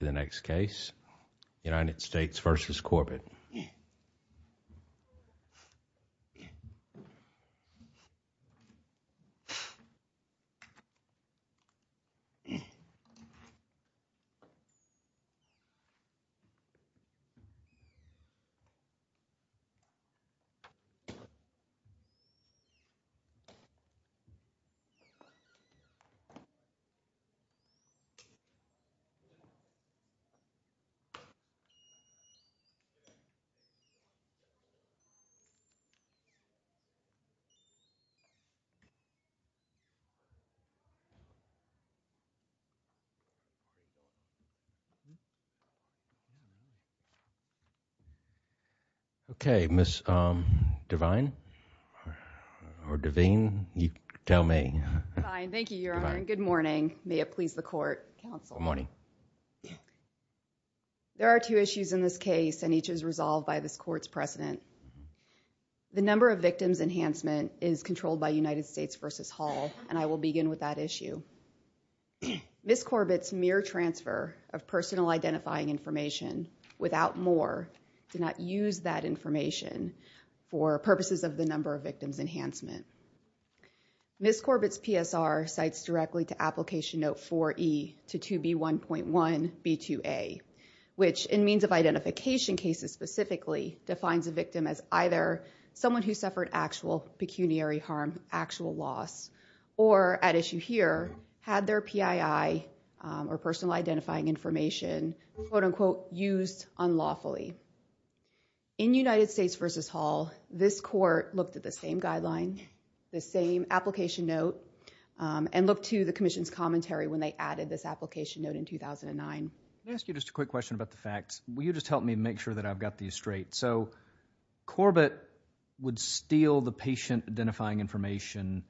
The next case United States versus Corbett. Okay, Ms. Devine or Devine, you tell me. Thank you, Your Honor. Good morning. May it please the court. Counsel. Good morning. There are two issues in this case and each is resolved by this court's precedent. The number of victims enhancement is controlled by United States versus Hall and I will begin with that issue. Ms. Corbett's mere transfer of personal identifying information without more did not use that information for purposes of the number of victims enhancement. Ms. Corbett's PSR cites directly to application note 4E to 2B1.1B2A, which in means of identification cases specifically defines a victim as either someone who suffered actual pecuniary harm, actual loss, or at issue here, had their PII or personal identifying information, quote unquote, used unlawfully. In United States versus Hall, this court looked at the same guideline, the same application note, and looked to the commission's commentary when they added this application note in 2009. Can I ask you just a quick question about the facts? Will you just help me make sure that I've got these straight? So Corbett would steal the patient identifying information,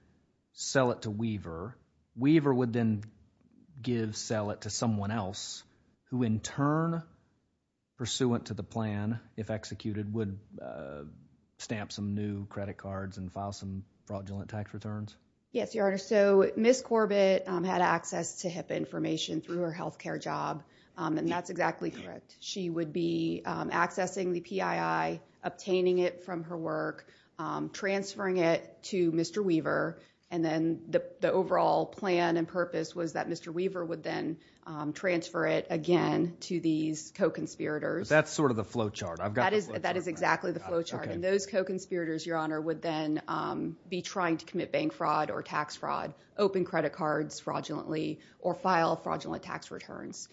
sell it to Weaver. Weaver would then give, sell it to someone else who in turn, pursuant to the plan, if executed, would stamp some new credit cards and file some fraudulent tax returns? Yes, Your Honor. So Ms. Corbett had access to HIPAA information through her healthcare job and that's exactly correct. She would be accessing the PII, obtaining it from her work, transferring it to Mr. Weaver, and then the overall plan and purpose was that Mr. Weaver would then transfer it again to these co-conspirators. That's sort of the flowchart. I've got the flowchart. That is exactly the flowchart, and those co-conspirators, Your Honor, would then be trying to commit bank fraud or tax fraud, open credit cards fraudulently, or file fraudulent tax returns.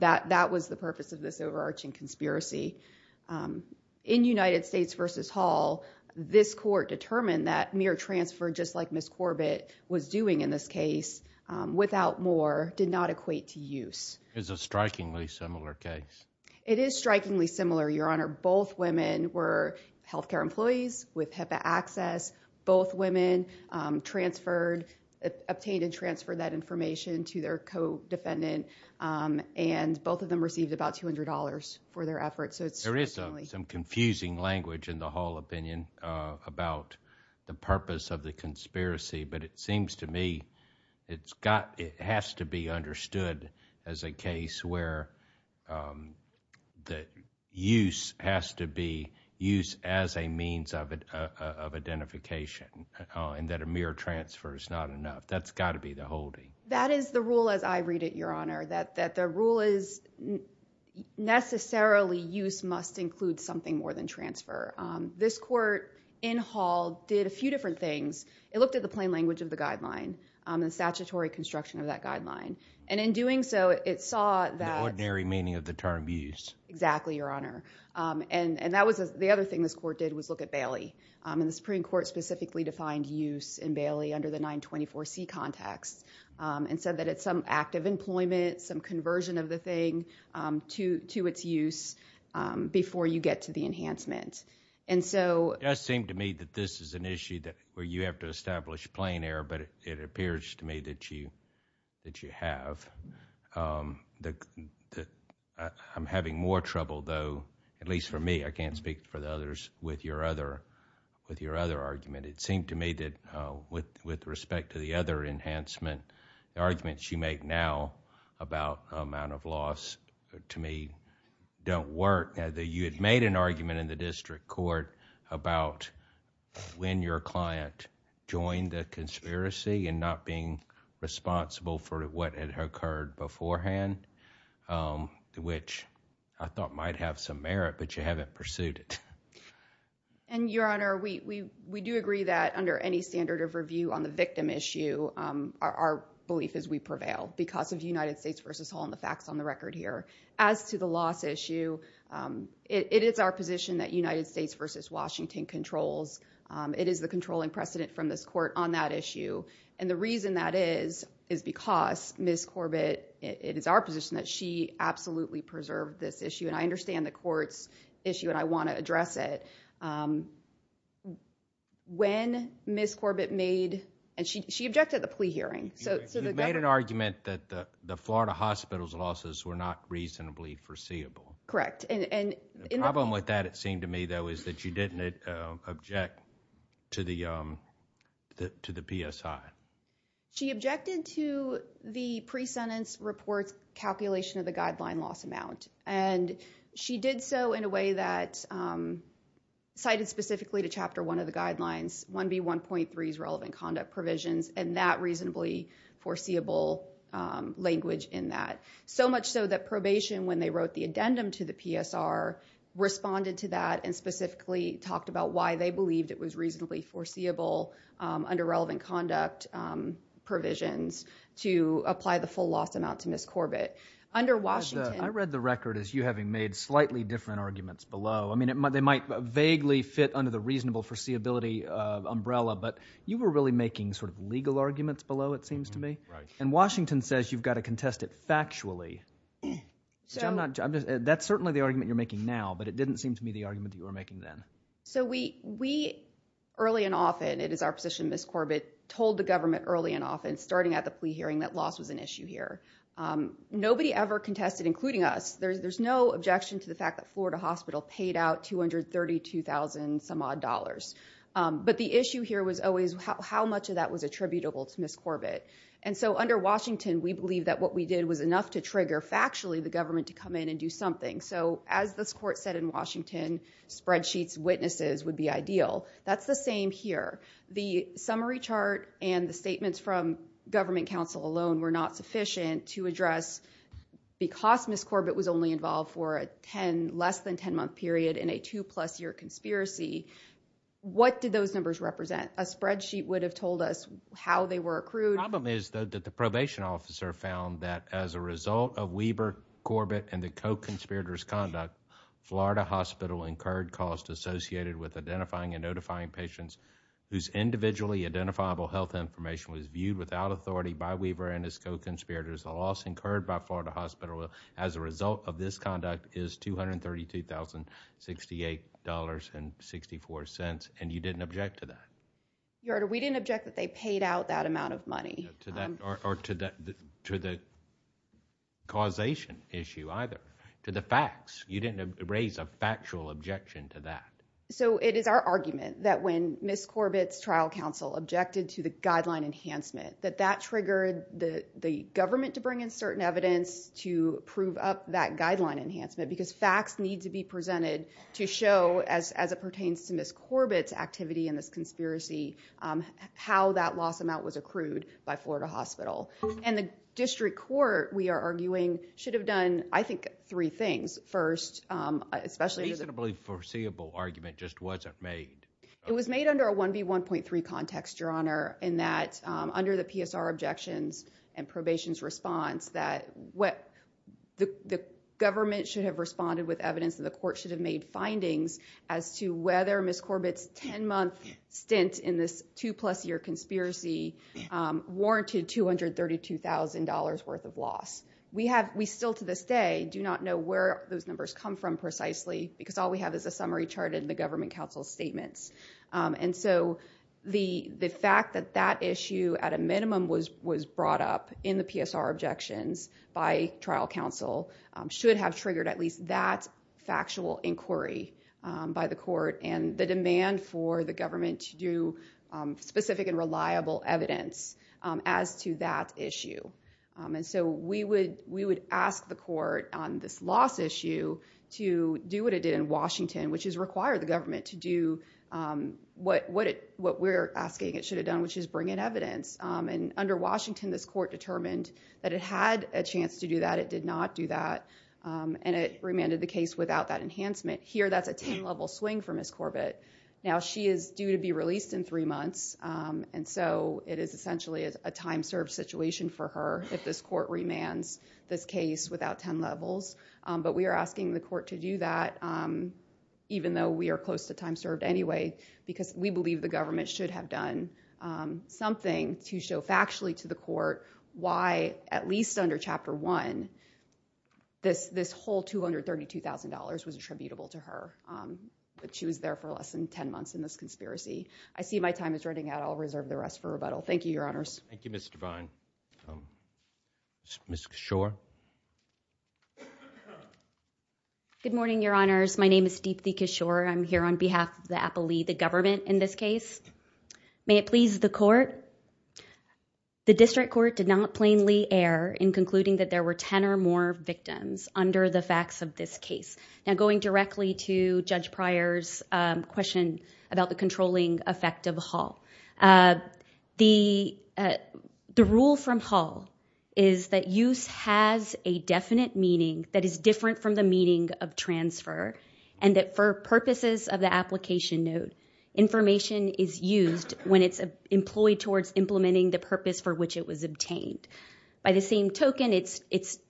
That was the purpose of this overarching conspiracy. In United States v. Hall, this court determined that mere transfer just like Ms. Corbett was doing in this case, without more, did not equate to use. It's a strikingly similar case. It is strikingly similar, Your Honor. Both women were healthcare employees with HIPAA access. Both women obtained and transferred that information to their co-defendant and both of them received about $200 for their efforts. There is some confusing language in the Hall opinion about the purpose of the conspiracy, but it seems to me it has to be understood as a case where the use has to be used as a means of identification, and that a mere transfer is not enough. That's got to be the holding. That is the rule as I read it, Your Honor, that the rule is necessarily use must include something more than transfer. This court in Hall did a few different things. It looked at the plain language of the guideline, the statutory construction of that guideline, and in doing so, it saw that— The ordinary meaning of the term use. Exactly, Your Honor. And that was the other thing this court did was look at Bailey. The Supreme Court specifically defined use in Bailey under the 924C context and said that it's some act of employment, some conversion of the thing to its use before you get to the enhancement. It does seem to me that this is an issue where you have to establish plain air, but it appears to me that you have. I'm having more trouble, though, at least for me. I can't speak for the others with your other argument. It seemed to me that with respect to the other enhancement, the arguments you make now about amount of loss, to me, don't work. You had made an argument in the district court about when your client joined the conspiracy and not being responsible for what had occurred beforehand, which I thought might have some reason to have pursued it. And Your Honor, we do agree that under any standard of review on the victim issue, our belief is we prevail because of United States v. Hall and the facts on the record here. As to the loss issue, it is our position that United States v. Washington controls. It is the controlling precedent from this court on that issue, and the reason that is is because Ms. Corbett, it is our position that she absolutely preserved this issue, and I understand the court's issue and I want to address it. When Ms. Corbett made, and she objected to the plea hearing. You made an argument that the Florida Hospital's losses were not reasonably foreseeable. Correct. The problem with that, it seemed to me, though, is that you didn't object to the PSI. She objected to the pre-sentence report calculation of the guideline loss amount, and she did so in a way that cited specifically to Chapter 1 of the guidelines, 1B1.3's relevant conduct provisions and that reasonably foreseeable language in that. So much so that probation, when they wrote the addendum to the PSR, responded to that and specifically talked about why they believed it was reasonably foreseeable under relevant conduct provisions to apply the full loss amount to Ms. Corbett. Under Washington... I read the record as you having made slightly different arguments below. I mean, they might vaguely fit under the reasonable foreseeability umbrella, but you were really making sort of legal arguments below, it seems to me. Right. And Washington says you've got to contest it factually, which I'm not... that's certainly the argument you're making now, but it didn't seem to me the argument you were making then. So we, early and often, it is our position Ms. Corbett told the government early and often starting at the plea hearing that loss was an issue here. Nobody ever contested, including us, there's no objection to the fact that Florida Hospital paid out $232,000 some odd dollars. But the issue here was always how much of that was attributable to Ms. Corbett. And so under Washington, we believe that what we did was enough to trigger factually the government to come in and do something. So as this court said in Washington, spreadsheets, witnesses would be ideal. That's the same here. The summary chart and the statements from government counsel alone were not sufficient to address because Ms. Corbett was only involved for a 10, less than 10 month period in a two plus year conspiracy. What did those numbers represent? A spreadsheet would have told us how they were accrued. Under Ms. Corbett and the co-conspirator's conduct, Florida Hospital incurred costs associated with identifying and notifying patients whose individually identifiable health information was viewed without authority by Weaver and his co-conspirators. The loss incurred by Florida Hospital as a result of this conduct is $232,068.64. And you didn't object to that? Your Honor, we didn't object that they paid out that amount of money. Or to the causation issue either, to the facts. You didn't raise a factual objection to that. So it is our argument that when Ms. Corbett's trial counsel objected to the guideline enhancement, that that triggered the government to bring in certain evidence to prove up that guideline enhancement because facts need to be presented to show, as it pertains to Ms. Corbett's activity and this conspiracy, how that loss amount was accrued by Florida Hospital. And the district court, we are arguing, should have done, I think, three things. First, especially... A reasonably foreseeable argument just wasn't made. It was made under a 1B1.3 context, Your Honor, in that under the PSR objections and probation's response that the government should have responded with evidence and the court should have made a stint in this two-plus-year conspiracy warranted $232,000 worth of loss. We still, to this day, do not know where those numbers come from precisely because all we have is a summary charted in the government counsel's statements. And so the fact that that issue, at a minimum, was brought up in the PSR objections by trial counsel should have triggered at least that factual inquiry by the court. And the demand for the government to do specific and reliable evidence as to that issue. And so we would ask the court on this loss issue to do what it did in Washington, which is require the government to do what we're asking it should have done, which is bring in evidence. And under Washington, this court determined that it had a chance to do that. It did not do that. And it remanded the case without that enhancement. Here that's a 10-level swing for Ms. Corbett. Now she is due to be released in three months, and so it is essentially a time-served situation for her if this court remands this case without 10 levels. But we are asking the court to do that even though we are close to time served anyway because we believe the government should have done something to show factually to the court why, at least under Chapter 1, this whole $232,000 was attributable to her, that she was there for less than 10 months in this conspiracy. I see my time is running out. I'll reserve the rest for rebuttal. Thank you, Your Honors. Thank you, Ms. Devine. Ms. Cashore? Good morning, Your Honors. My name is Deepthi Cashore. I'm here on behalf of the appellee, the government in this case. May it please the court. The district court did not plainly err in concluding that there were 10 or more victims under the facts of this case. Now going directly to Judge Pryor's question about the controlling effect of Hull, the rule from Hull is that use has a definite meaning that is different from the meaning of transfer and that for purposes of the application note, information is used when it's employed towards implementing the purpose for which it was obtained. By the same token, it's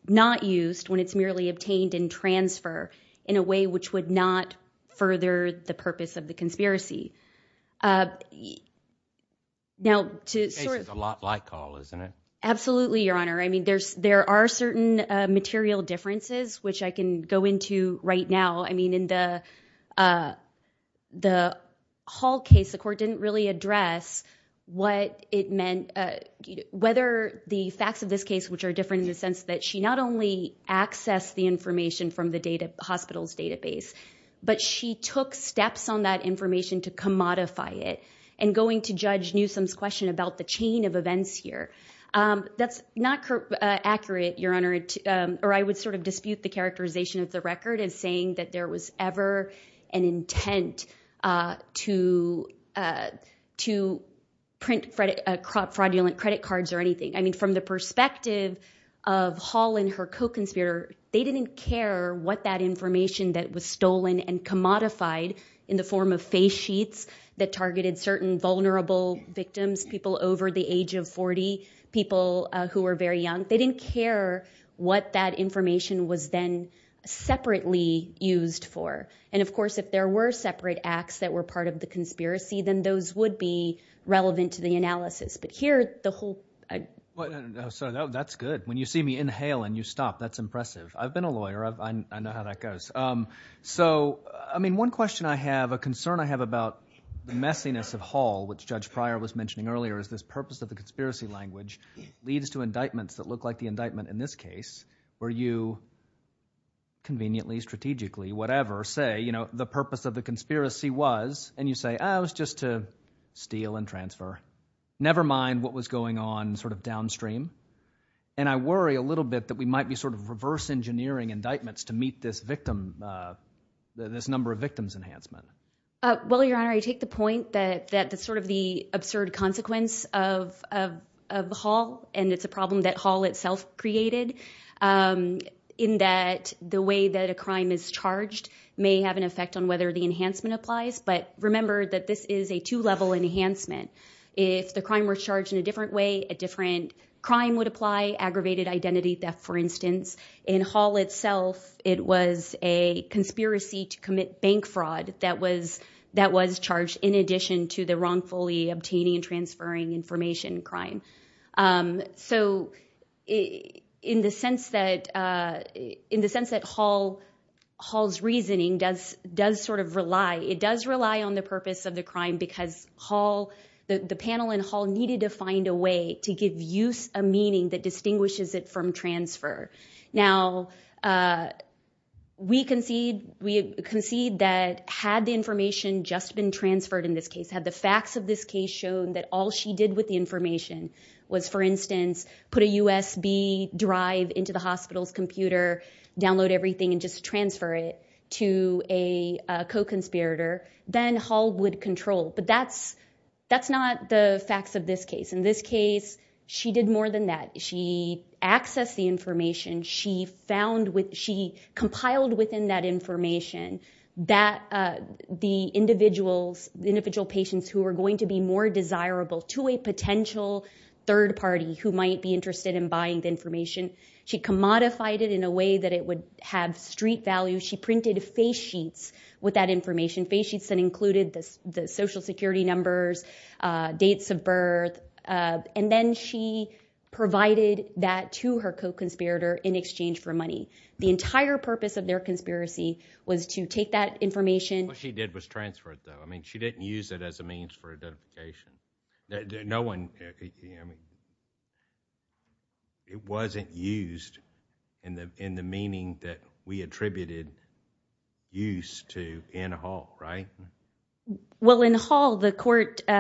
not used when it's merely obtained in transfer in a way which would not further the purpose of the conspiracy. This case is a lot like Hull, isn't it? Absolutely, Your Honor. I mean, there are certain material differences, which I can go into right now. I mean, in the Hull case, the court didn't really address what it meant, whether the facts of this case, which are different in the sense that she not only accessed the information from the hospital's database, but she took steps on that information to commodify it and going to Judge Newsom's question about the chain of events here. That's not accurate, Your Honor, or I would sort of dispute the characterization of the fact that there was ever an intent to print fraudulent credit cards or anything. I mean, from the perspective of Hull and her co-conspirator, they didn't care what that information that was stolen and commodified in the form of face sheets that targeted certain vulnerable victims, people over the age of 40, people who were very young. They didn't care what that information was then separately used for. And of course, if there were separate acts that were part of the conspiracy, then those would be relevant to the analysis. But here, the whole... That's good. When you see me inhale and you stop, that's impressive. I've been a lawyer. I know how that goes. So I mean, one question I have, a concern I have about the messiness of Hull, which Judge Pryor was mentioning earlier, is this purpose of the conspiracy language leads to look like the indictment in this case, where you conveniently, strategically, whatever, say the purpose of the conspiracy was, and you say, oh, it was just to steal and transfer, never mind what was going on sort of downstream. And I worry a little bit that we might be sort of reverse engineering indictments to meet this victim, this number of victims enhancement. Well, Your Honor, I take the point that sort of the absurd consequence of Hull, and it's a problem that Hull itself created, in that the way that a crime is charged may have an effect on whether the enhancement applies. But remember that this is a two-level enhancement. If the crime were charged in a different way, a different crime would apply, aggravated identity theft, for instance. In Hull itself, it was a conspiracy to commit bank fraud that was charged in addition to the wrongfully obtaining and transferring information crime. So in the sense that Hull's reasoning does sort of rely, it does rely on the purpose of the crime because Hull, the panel in Hull, needed to find a way to give use a meaning that distinguishes it from transfer. Now we concede that had the information just been transferred in this case, had the facts of this case shown that all she did with the information was, for instance, put a USB drive into the hospital's computer, download everything, and just transfer it to a co-conspirator, then Hull would control. But that's not the facts of this case. In this case, she did more than that. She accessed the information. She compiled within that information that the individual patients who were going to be more desirable to a potential third party who might be interested in buying the information. She commodified it in a way that it would have street value. She printed face sheets with that information, face sheets that included the social security numbers, dates of birth. And then she provided that to her co-conspirator in exchange for money. The entire purpose of their conspiracy was to take that information- What she did was transfer it, though. I mean, she didn't use it as a means for identification. No one, I mean, it wasn't used in the meaning that we attributed use to in Hull, right? Well, in Hull, the court, or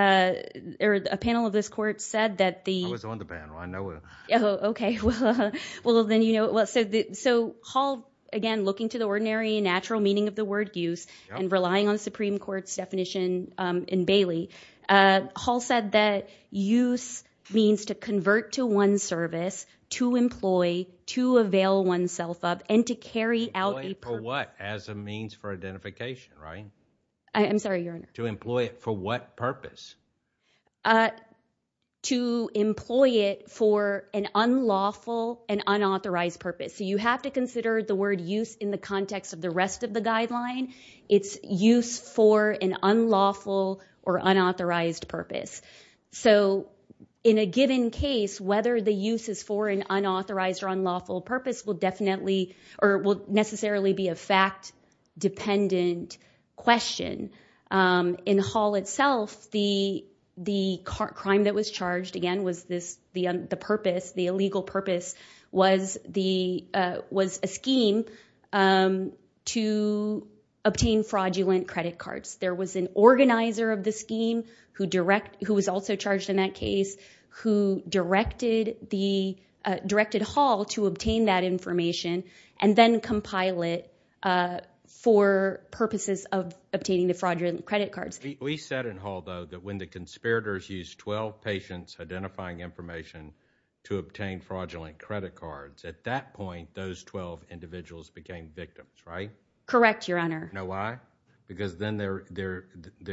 a panel of this court said that the- I was on the panel. I know it. Oh, okay. Well, then, you know, so Hull, again, looking to the ordinary and natural meaning of the word use and relying on the Supreme Court's definition in Bailey, Hull said that use means to convert to one's service, to employ, to avail oneself of, and to carry out a purpose- Employ for what? As a means for identification, right? I'm sorry, Your Honor. To employ it for what purpose? To employ it for an unlawful and unauthorized purpose. So you have to consider the word use in the context of the rest of the guideline. It's use for an unlawful or unauthorized purpose. So in a given case, whether the use is for an unauthorized or unlawful purpose will definitely, or will necessarily be a fact-dependent question. In Hull itself, the crime that was charged, again, was this, the purpose, the illegal purpose was a scheme to obtain fraudulent credit cards. There was an organizer of the scheme who was also charged in that case who directed Hull to obtain that information and then compile it for purposes of obtaining the fraudulent credit cards. We said in Hull, though, that when the conspirators used 12 patients identifying information to obtain fraudulent credit cards, at that point, those 12 individuals became victims, right? Correct, Your Honor. Now why? Because then their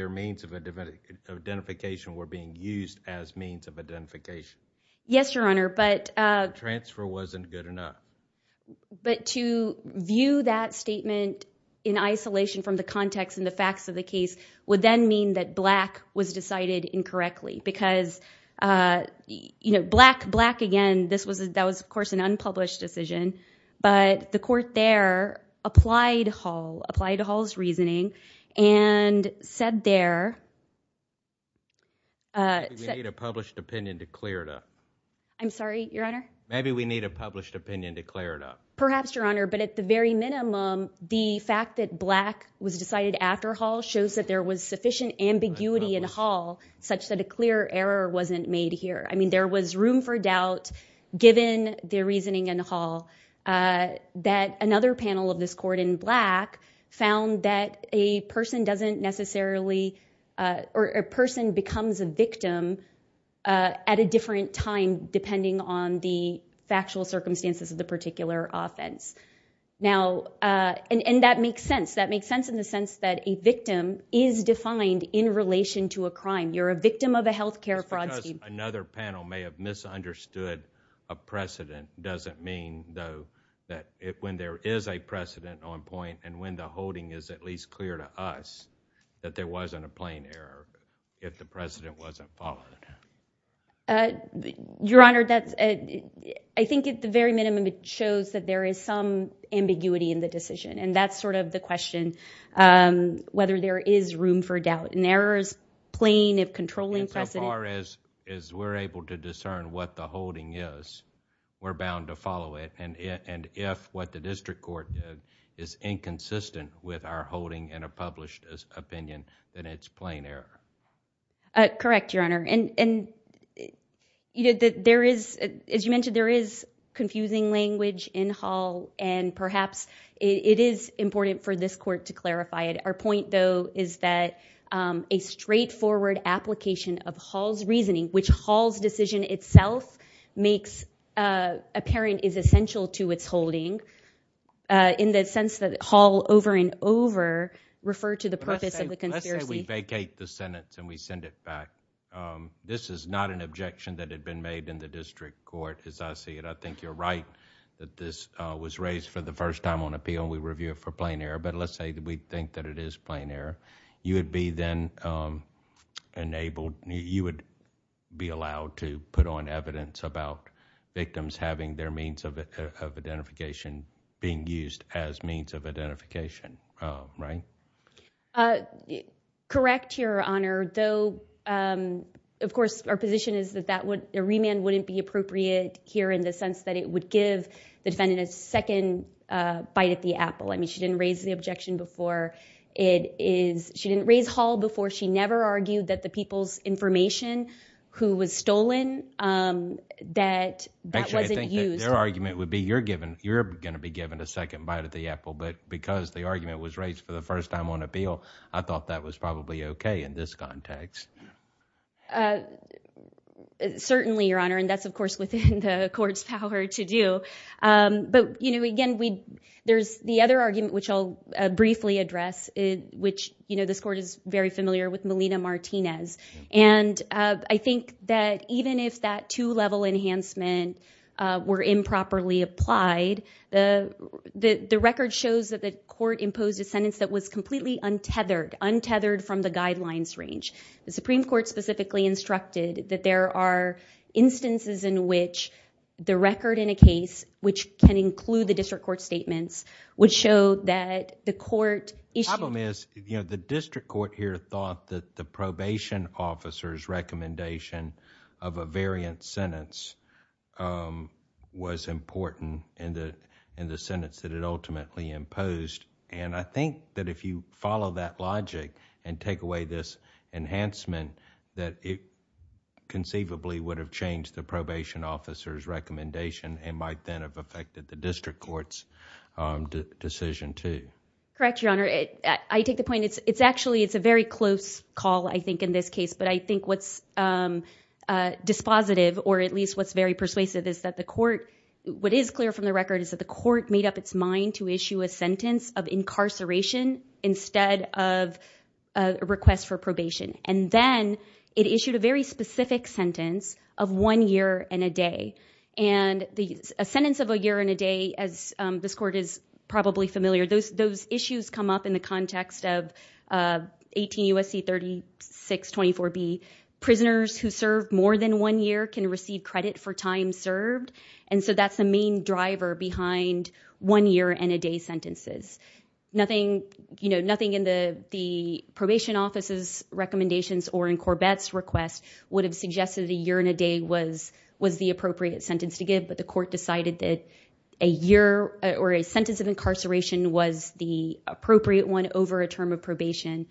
means of identification were being used as means of identification. Yes, Your Honor, but- But to view that statement in isolation from the context and the facts of the case would then mean that Black was decided incorrectly because Black, again, that was, of course, an unpublished decision, but the court there applied Hull, applied Hull's reasoning and said there- Maybe we need a published opinion to clear it up. I'm sorry, Your Honor? Maybe we need a published opinion to clear it up. Perhaps, Your Honor, but at the very minimum, the fact that Black was decided after Hull shows that there was sufficient ambiguity in Hull such that a clear error wasn't made here. I mean, there was room for doubt given the reasoning in Hull that another panel of this court in Black found that a person doesn't necessarily, or a person becomes a victim at a different time depending on the factual circumstances of the particular offense. Now, and that makes sense. That makes sense in the sense that a victim is defined in relation to a crime. You're a victim of a healthcare fraud scheme. Another panel may have misunderstood a precedent doesn't mean though that when there is a precedent on point and when the holding is at least clear to us that there wasn't a plain error if the precedent wasn't followed. Your Honor, I think at the very minimum it shows that there is some ambiguity in the decision and that's sort of the question, whether there is room for doubt. An error is plain if controlling precedent- Insofar as we're able to discern what the holding is, we're bound to follow it and if what the district court did is inconsistent with our holding and a published opinion then it's plain error. Correct, Your Honor, and there is, as you mentioned, there is confusing language in Hull and perhaps it is important for this court to clarify it. Our point though is that a straightforward application of Hull's reasoning, which Hull's decision itself makes apparent is essential to its holding in the sense that Hull over and over referred to the purpose of the conspiracy. Let's say we vacate the sentence and we send it back. This is not an objection that had been made in the district court as I see it. I think you're right that this was raised for the first time on appeal and we review it for plain error, but let's say that we think that it is plain error. You would be then enabled, you would be allowed to put on evidence about victims having their means of identification being used as means of identification, right? Correct, Your Honor, though of course our position is that a remand wouldn't be appropriate here in the sense that it would give the defendant a second bite at the apple. I mean she didn't raise the objection before. She didn't raise Hull before. She never argued that the people's information who was stolen, that wasn't used... Their argument would be you're going to be given a second bite at the apple, but because the argument was raised for the first time on appeal, I thought that was probably okay in this context. Certainly, Your Honor, and that's of course within the court's power to do. But again, there's the other argument which I'll briefly address, which this court is very familiar with, Melina Martinez. And I think that even if that two-level enhancement were improperly applied, the record shows that the court imposed a sentence that was completely untethered, untethered from the guidelines range. The Supreme Court specifically instructed that there are instances in which the record in a case, which can include the district court statements, would show that the court issued... The probation officer's recommendation of a variant sentence was important in the sentence that it ultimately imposed. And I think that if you follow that logic and take away this enhancement, that it conceivably would have changed the probation officer's recommendation and might then have affected the district court's decision too. Correct, Your Honor. I take the point, it's actually a very close call, I think, in this case. But I think what's dispositive, or at least what's very persuasive, is that the court... What is clear from the record is that the court made up its mind to issue a sentence of incarceration instead of a request for probation. And then it issued a very specific sentence of one year and a day. And a sentence of a year and a day, as this court is probably familiar, those issues come up in the context of 18 U.S.C. 3624B. Prisoners who serve more than one year can receive credit for time served. And so that's the main driver behind one year and a day sentences. Nothing in the probation officer's recommendations or in Corbett's request would have suggested a year and a day was the appropriate sentence to give, but the court decided that a year or a sentence of incarceration was the appropriate one over a term of probation,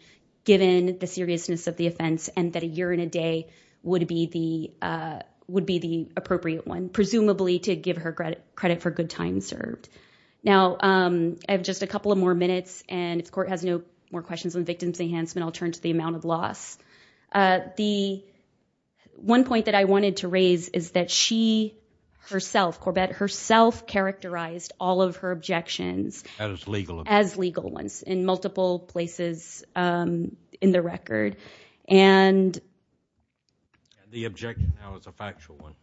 given the seriousness of the offense, and that a year and a day would be the appropriate one, presumably to give her credit for good time served. Now I have just a couple of more minutes, and if the court has no more questions on victim's enhancement, I'll turn to the amount of loss. The one point that I wanted to raise is that she herself, Corbett herself, characterized all of her objections as legal ones in multiple places in the record. And the objection now is a factual one.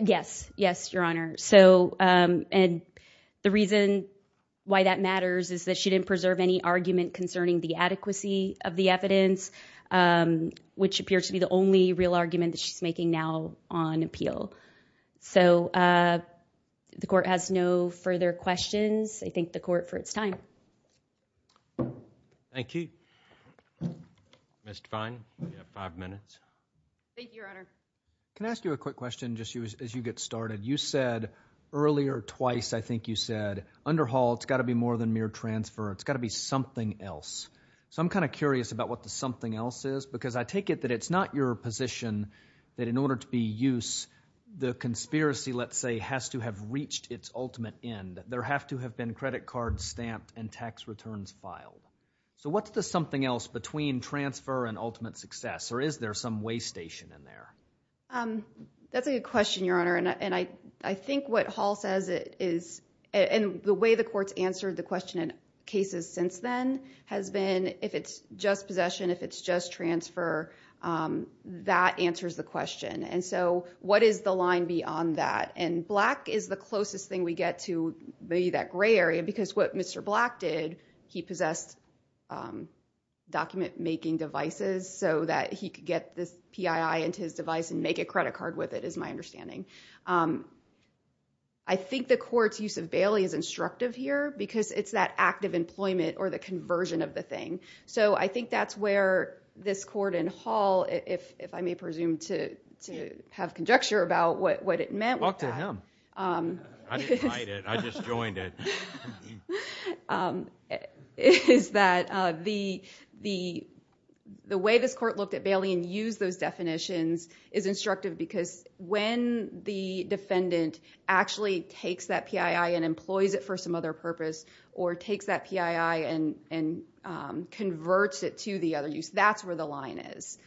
Yes. Yes, Your Honor. So and the reason why that matters is that she didn't preserve any argument concerning the adequacy of the evidence, which appears to be the only real argument that she's making now on appeal. So the court has no further questions. I thank the court for its time. Thank you. Ms. Define, you have five minutes. Thank you, Your Honor. Can I ask you a quick question just as you get started? You said earlier twice, I think you said, underhaul, it's got to be more than mere transfer. It's got to be something else. So I'm kind of curious about what the something else is, because I take it that it's not your position that in order to be used, the conspiracy, let's say, has to have reached its ultimate end. There have to have been credit cards stamped and tax returns filed. So what's the something else between transfer and ultimate success, or is there some way station in there? That's a good question, Your Honor, and I think what Hall says is, and the way the court's the question in cases since then has been, if it's just possession, if it's just transfer, that answers the question. And so what is the line beyond that? And Black is the closest thing we get to maybe that gray area, because what Mr. Black did, he possessed document-making devices so that he could get this PII into his device and make a credit card with it, is my understanding. I think the court's use of Bailey is instructive here, because it's that act of employment or the conversion of the thing. So I think that's where this court and Hall, if I may presume to have conjecture about what it meant. Talk to him. I didn't write it. I just joined it. Is that the way this court looked at Bailey and used those definitions is instructive because when the defendant actually takes that PII and employs it for some other purpose or takes that PII and converts it to the other use, that's where the line is.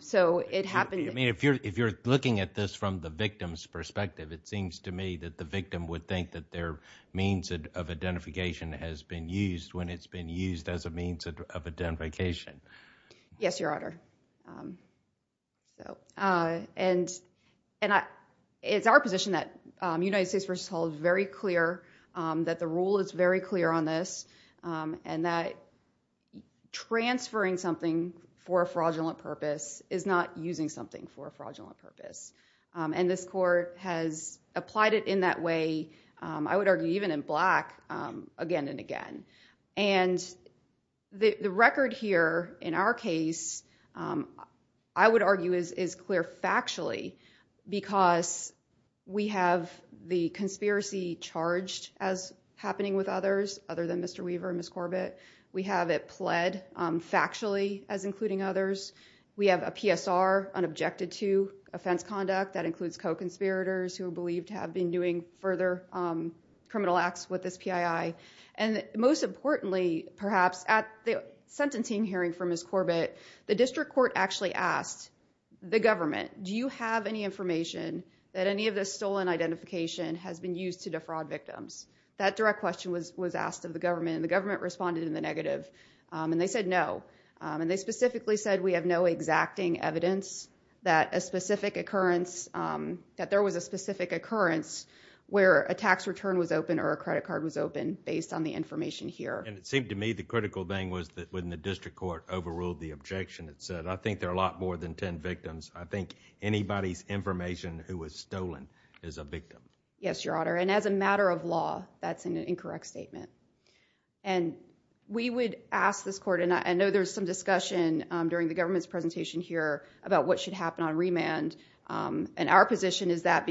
So it happened... I mean, if you're looking at this from the victim's perspective, it seems to me that the victim would think that their means of identification has been used when it's been used as a means of identification. Yes, Your Honor. And it's our position that United States v. Hall is very clear that the rule is very clear on this and that transferring something for a fraudulent purpose is not using something for a fraudulent purpose. And this court has applied it in that way, I would argue even in black, again and again. And the record here in our case, I would argue, is clear factually because we have the conspiracy charged as happening with others other than Mr. Weaver and Ms. Corbett. We have it pled factually as including others. We have a PSR unobjected to offense conduct that includes co-conspirators who are believed to have been doing further criminal acts with this PII. And most importantly, perhaps, at the sentencing hearing for Ms. Corbett, the district court actually asked the government, do you have any information that any of this stolen identification has been used to defraud victims? That direct question was asked of the government, and the government responded in the negative. And they said no. And they specifically said we have no exacting evidence that a specific occurrence... that And it seemed to me the critical thing was that when the district court overruled the objection it said, I think there are a lot more than ten victims. I think anybody's information who was stolen is a victim. Yes, Your Honor. And as a matter of law, that's an incorrect statement. And we would ask this court, and I know there's some discussion during the government's presentation here about what should happen on remand. And our position is that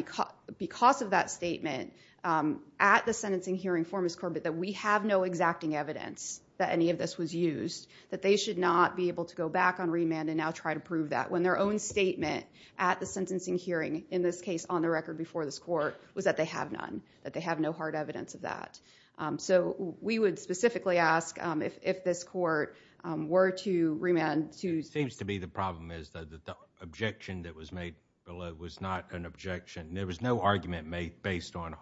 because of that statement, at the sentencing hearing for Ms. Corbett, that we have no exacting evidence that any of this was used, that they should not be able to go back on remand and now try to prove that. When their own statement at the sentencing hearing, in this case on the record before this court, was that they have none, that they have no hard evidence of that. So we would specifically ask if this court were to remand to... It seems to be the problem is that the objection that was made below was not an objection. There was no argument made based on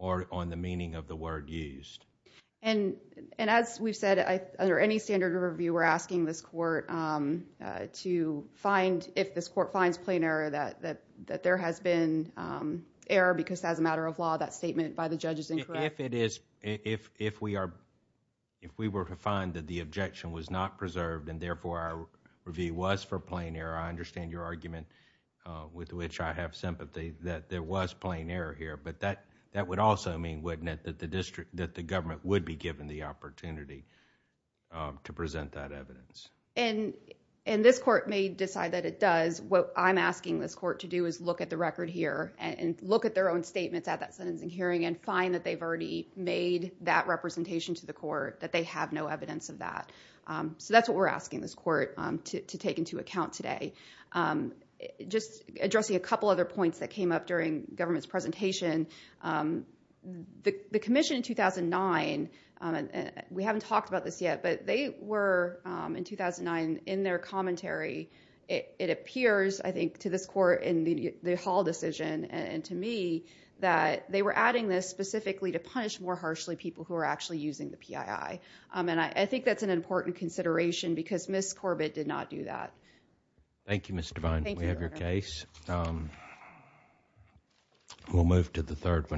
the meaning of the word used. And as we've said, under any standard of review, we're asking this court to find, if this court finds plain error, that there has been error because as a matter of law, that statement by the judge is incorrect. If we were to find that the objection was not preserved and therefore our review was for plain error, I understand your argument with which I have sympathy that there was plain error here, but that would also mean, wouldn't it, that the district, that the government would be given the opportunity to present that evidence. And this court may decide that it does. What I'm asking this court to do is look at the record here and look at their own statements at that sentencing hearing and find that they've already made that representation to the court, that they have no evidence of that. So that's what we're asking this court to take into account today. Just addressing a couple other points that came up during the government's presentation, the commission in 2009, we haven't talked about this yet, but they were in 2009 in their commentary, it appears, I think, to this court in the Hall decision and to me, that they were adding this specifically to punish more harshly people who were actually using the PII. And I think that's an important consideration because Ms. Corbett did not do that. Thank you, Ms. Devine. Thank you, Your Honor. We have your case. We'll move to the third one.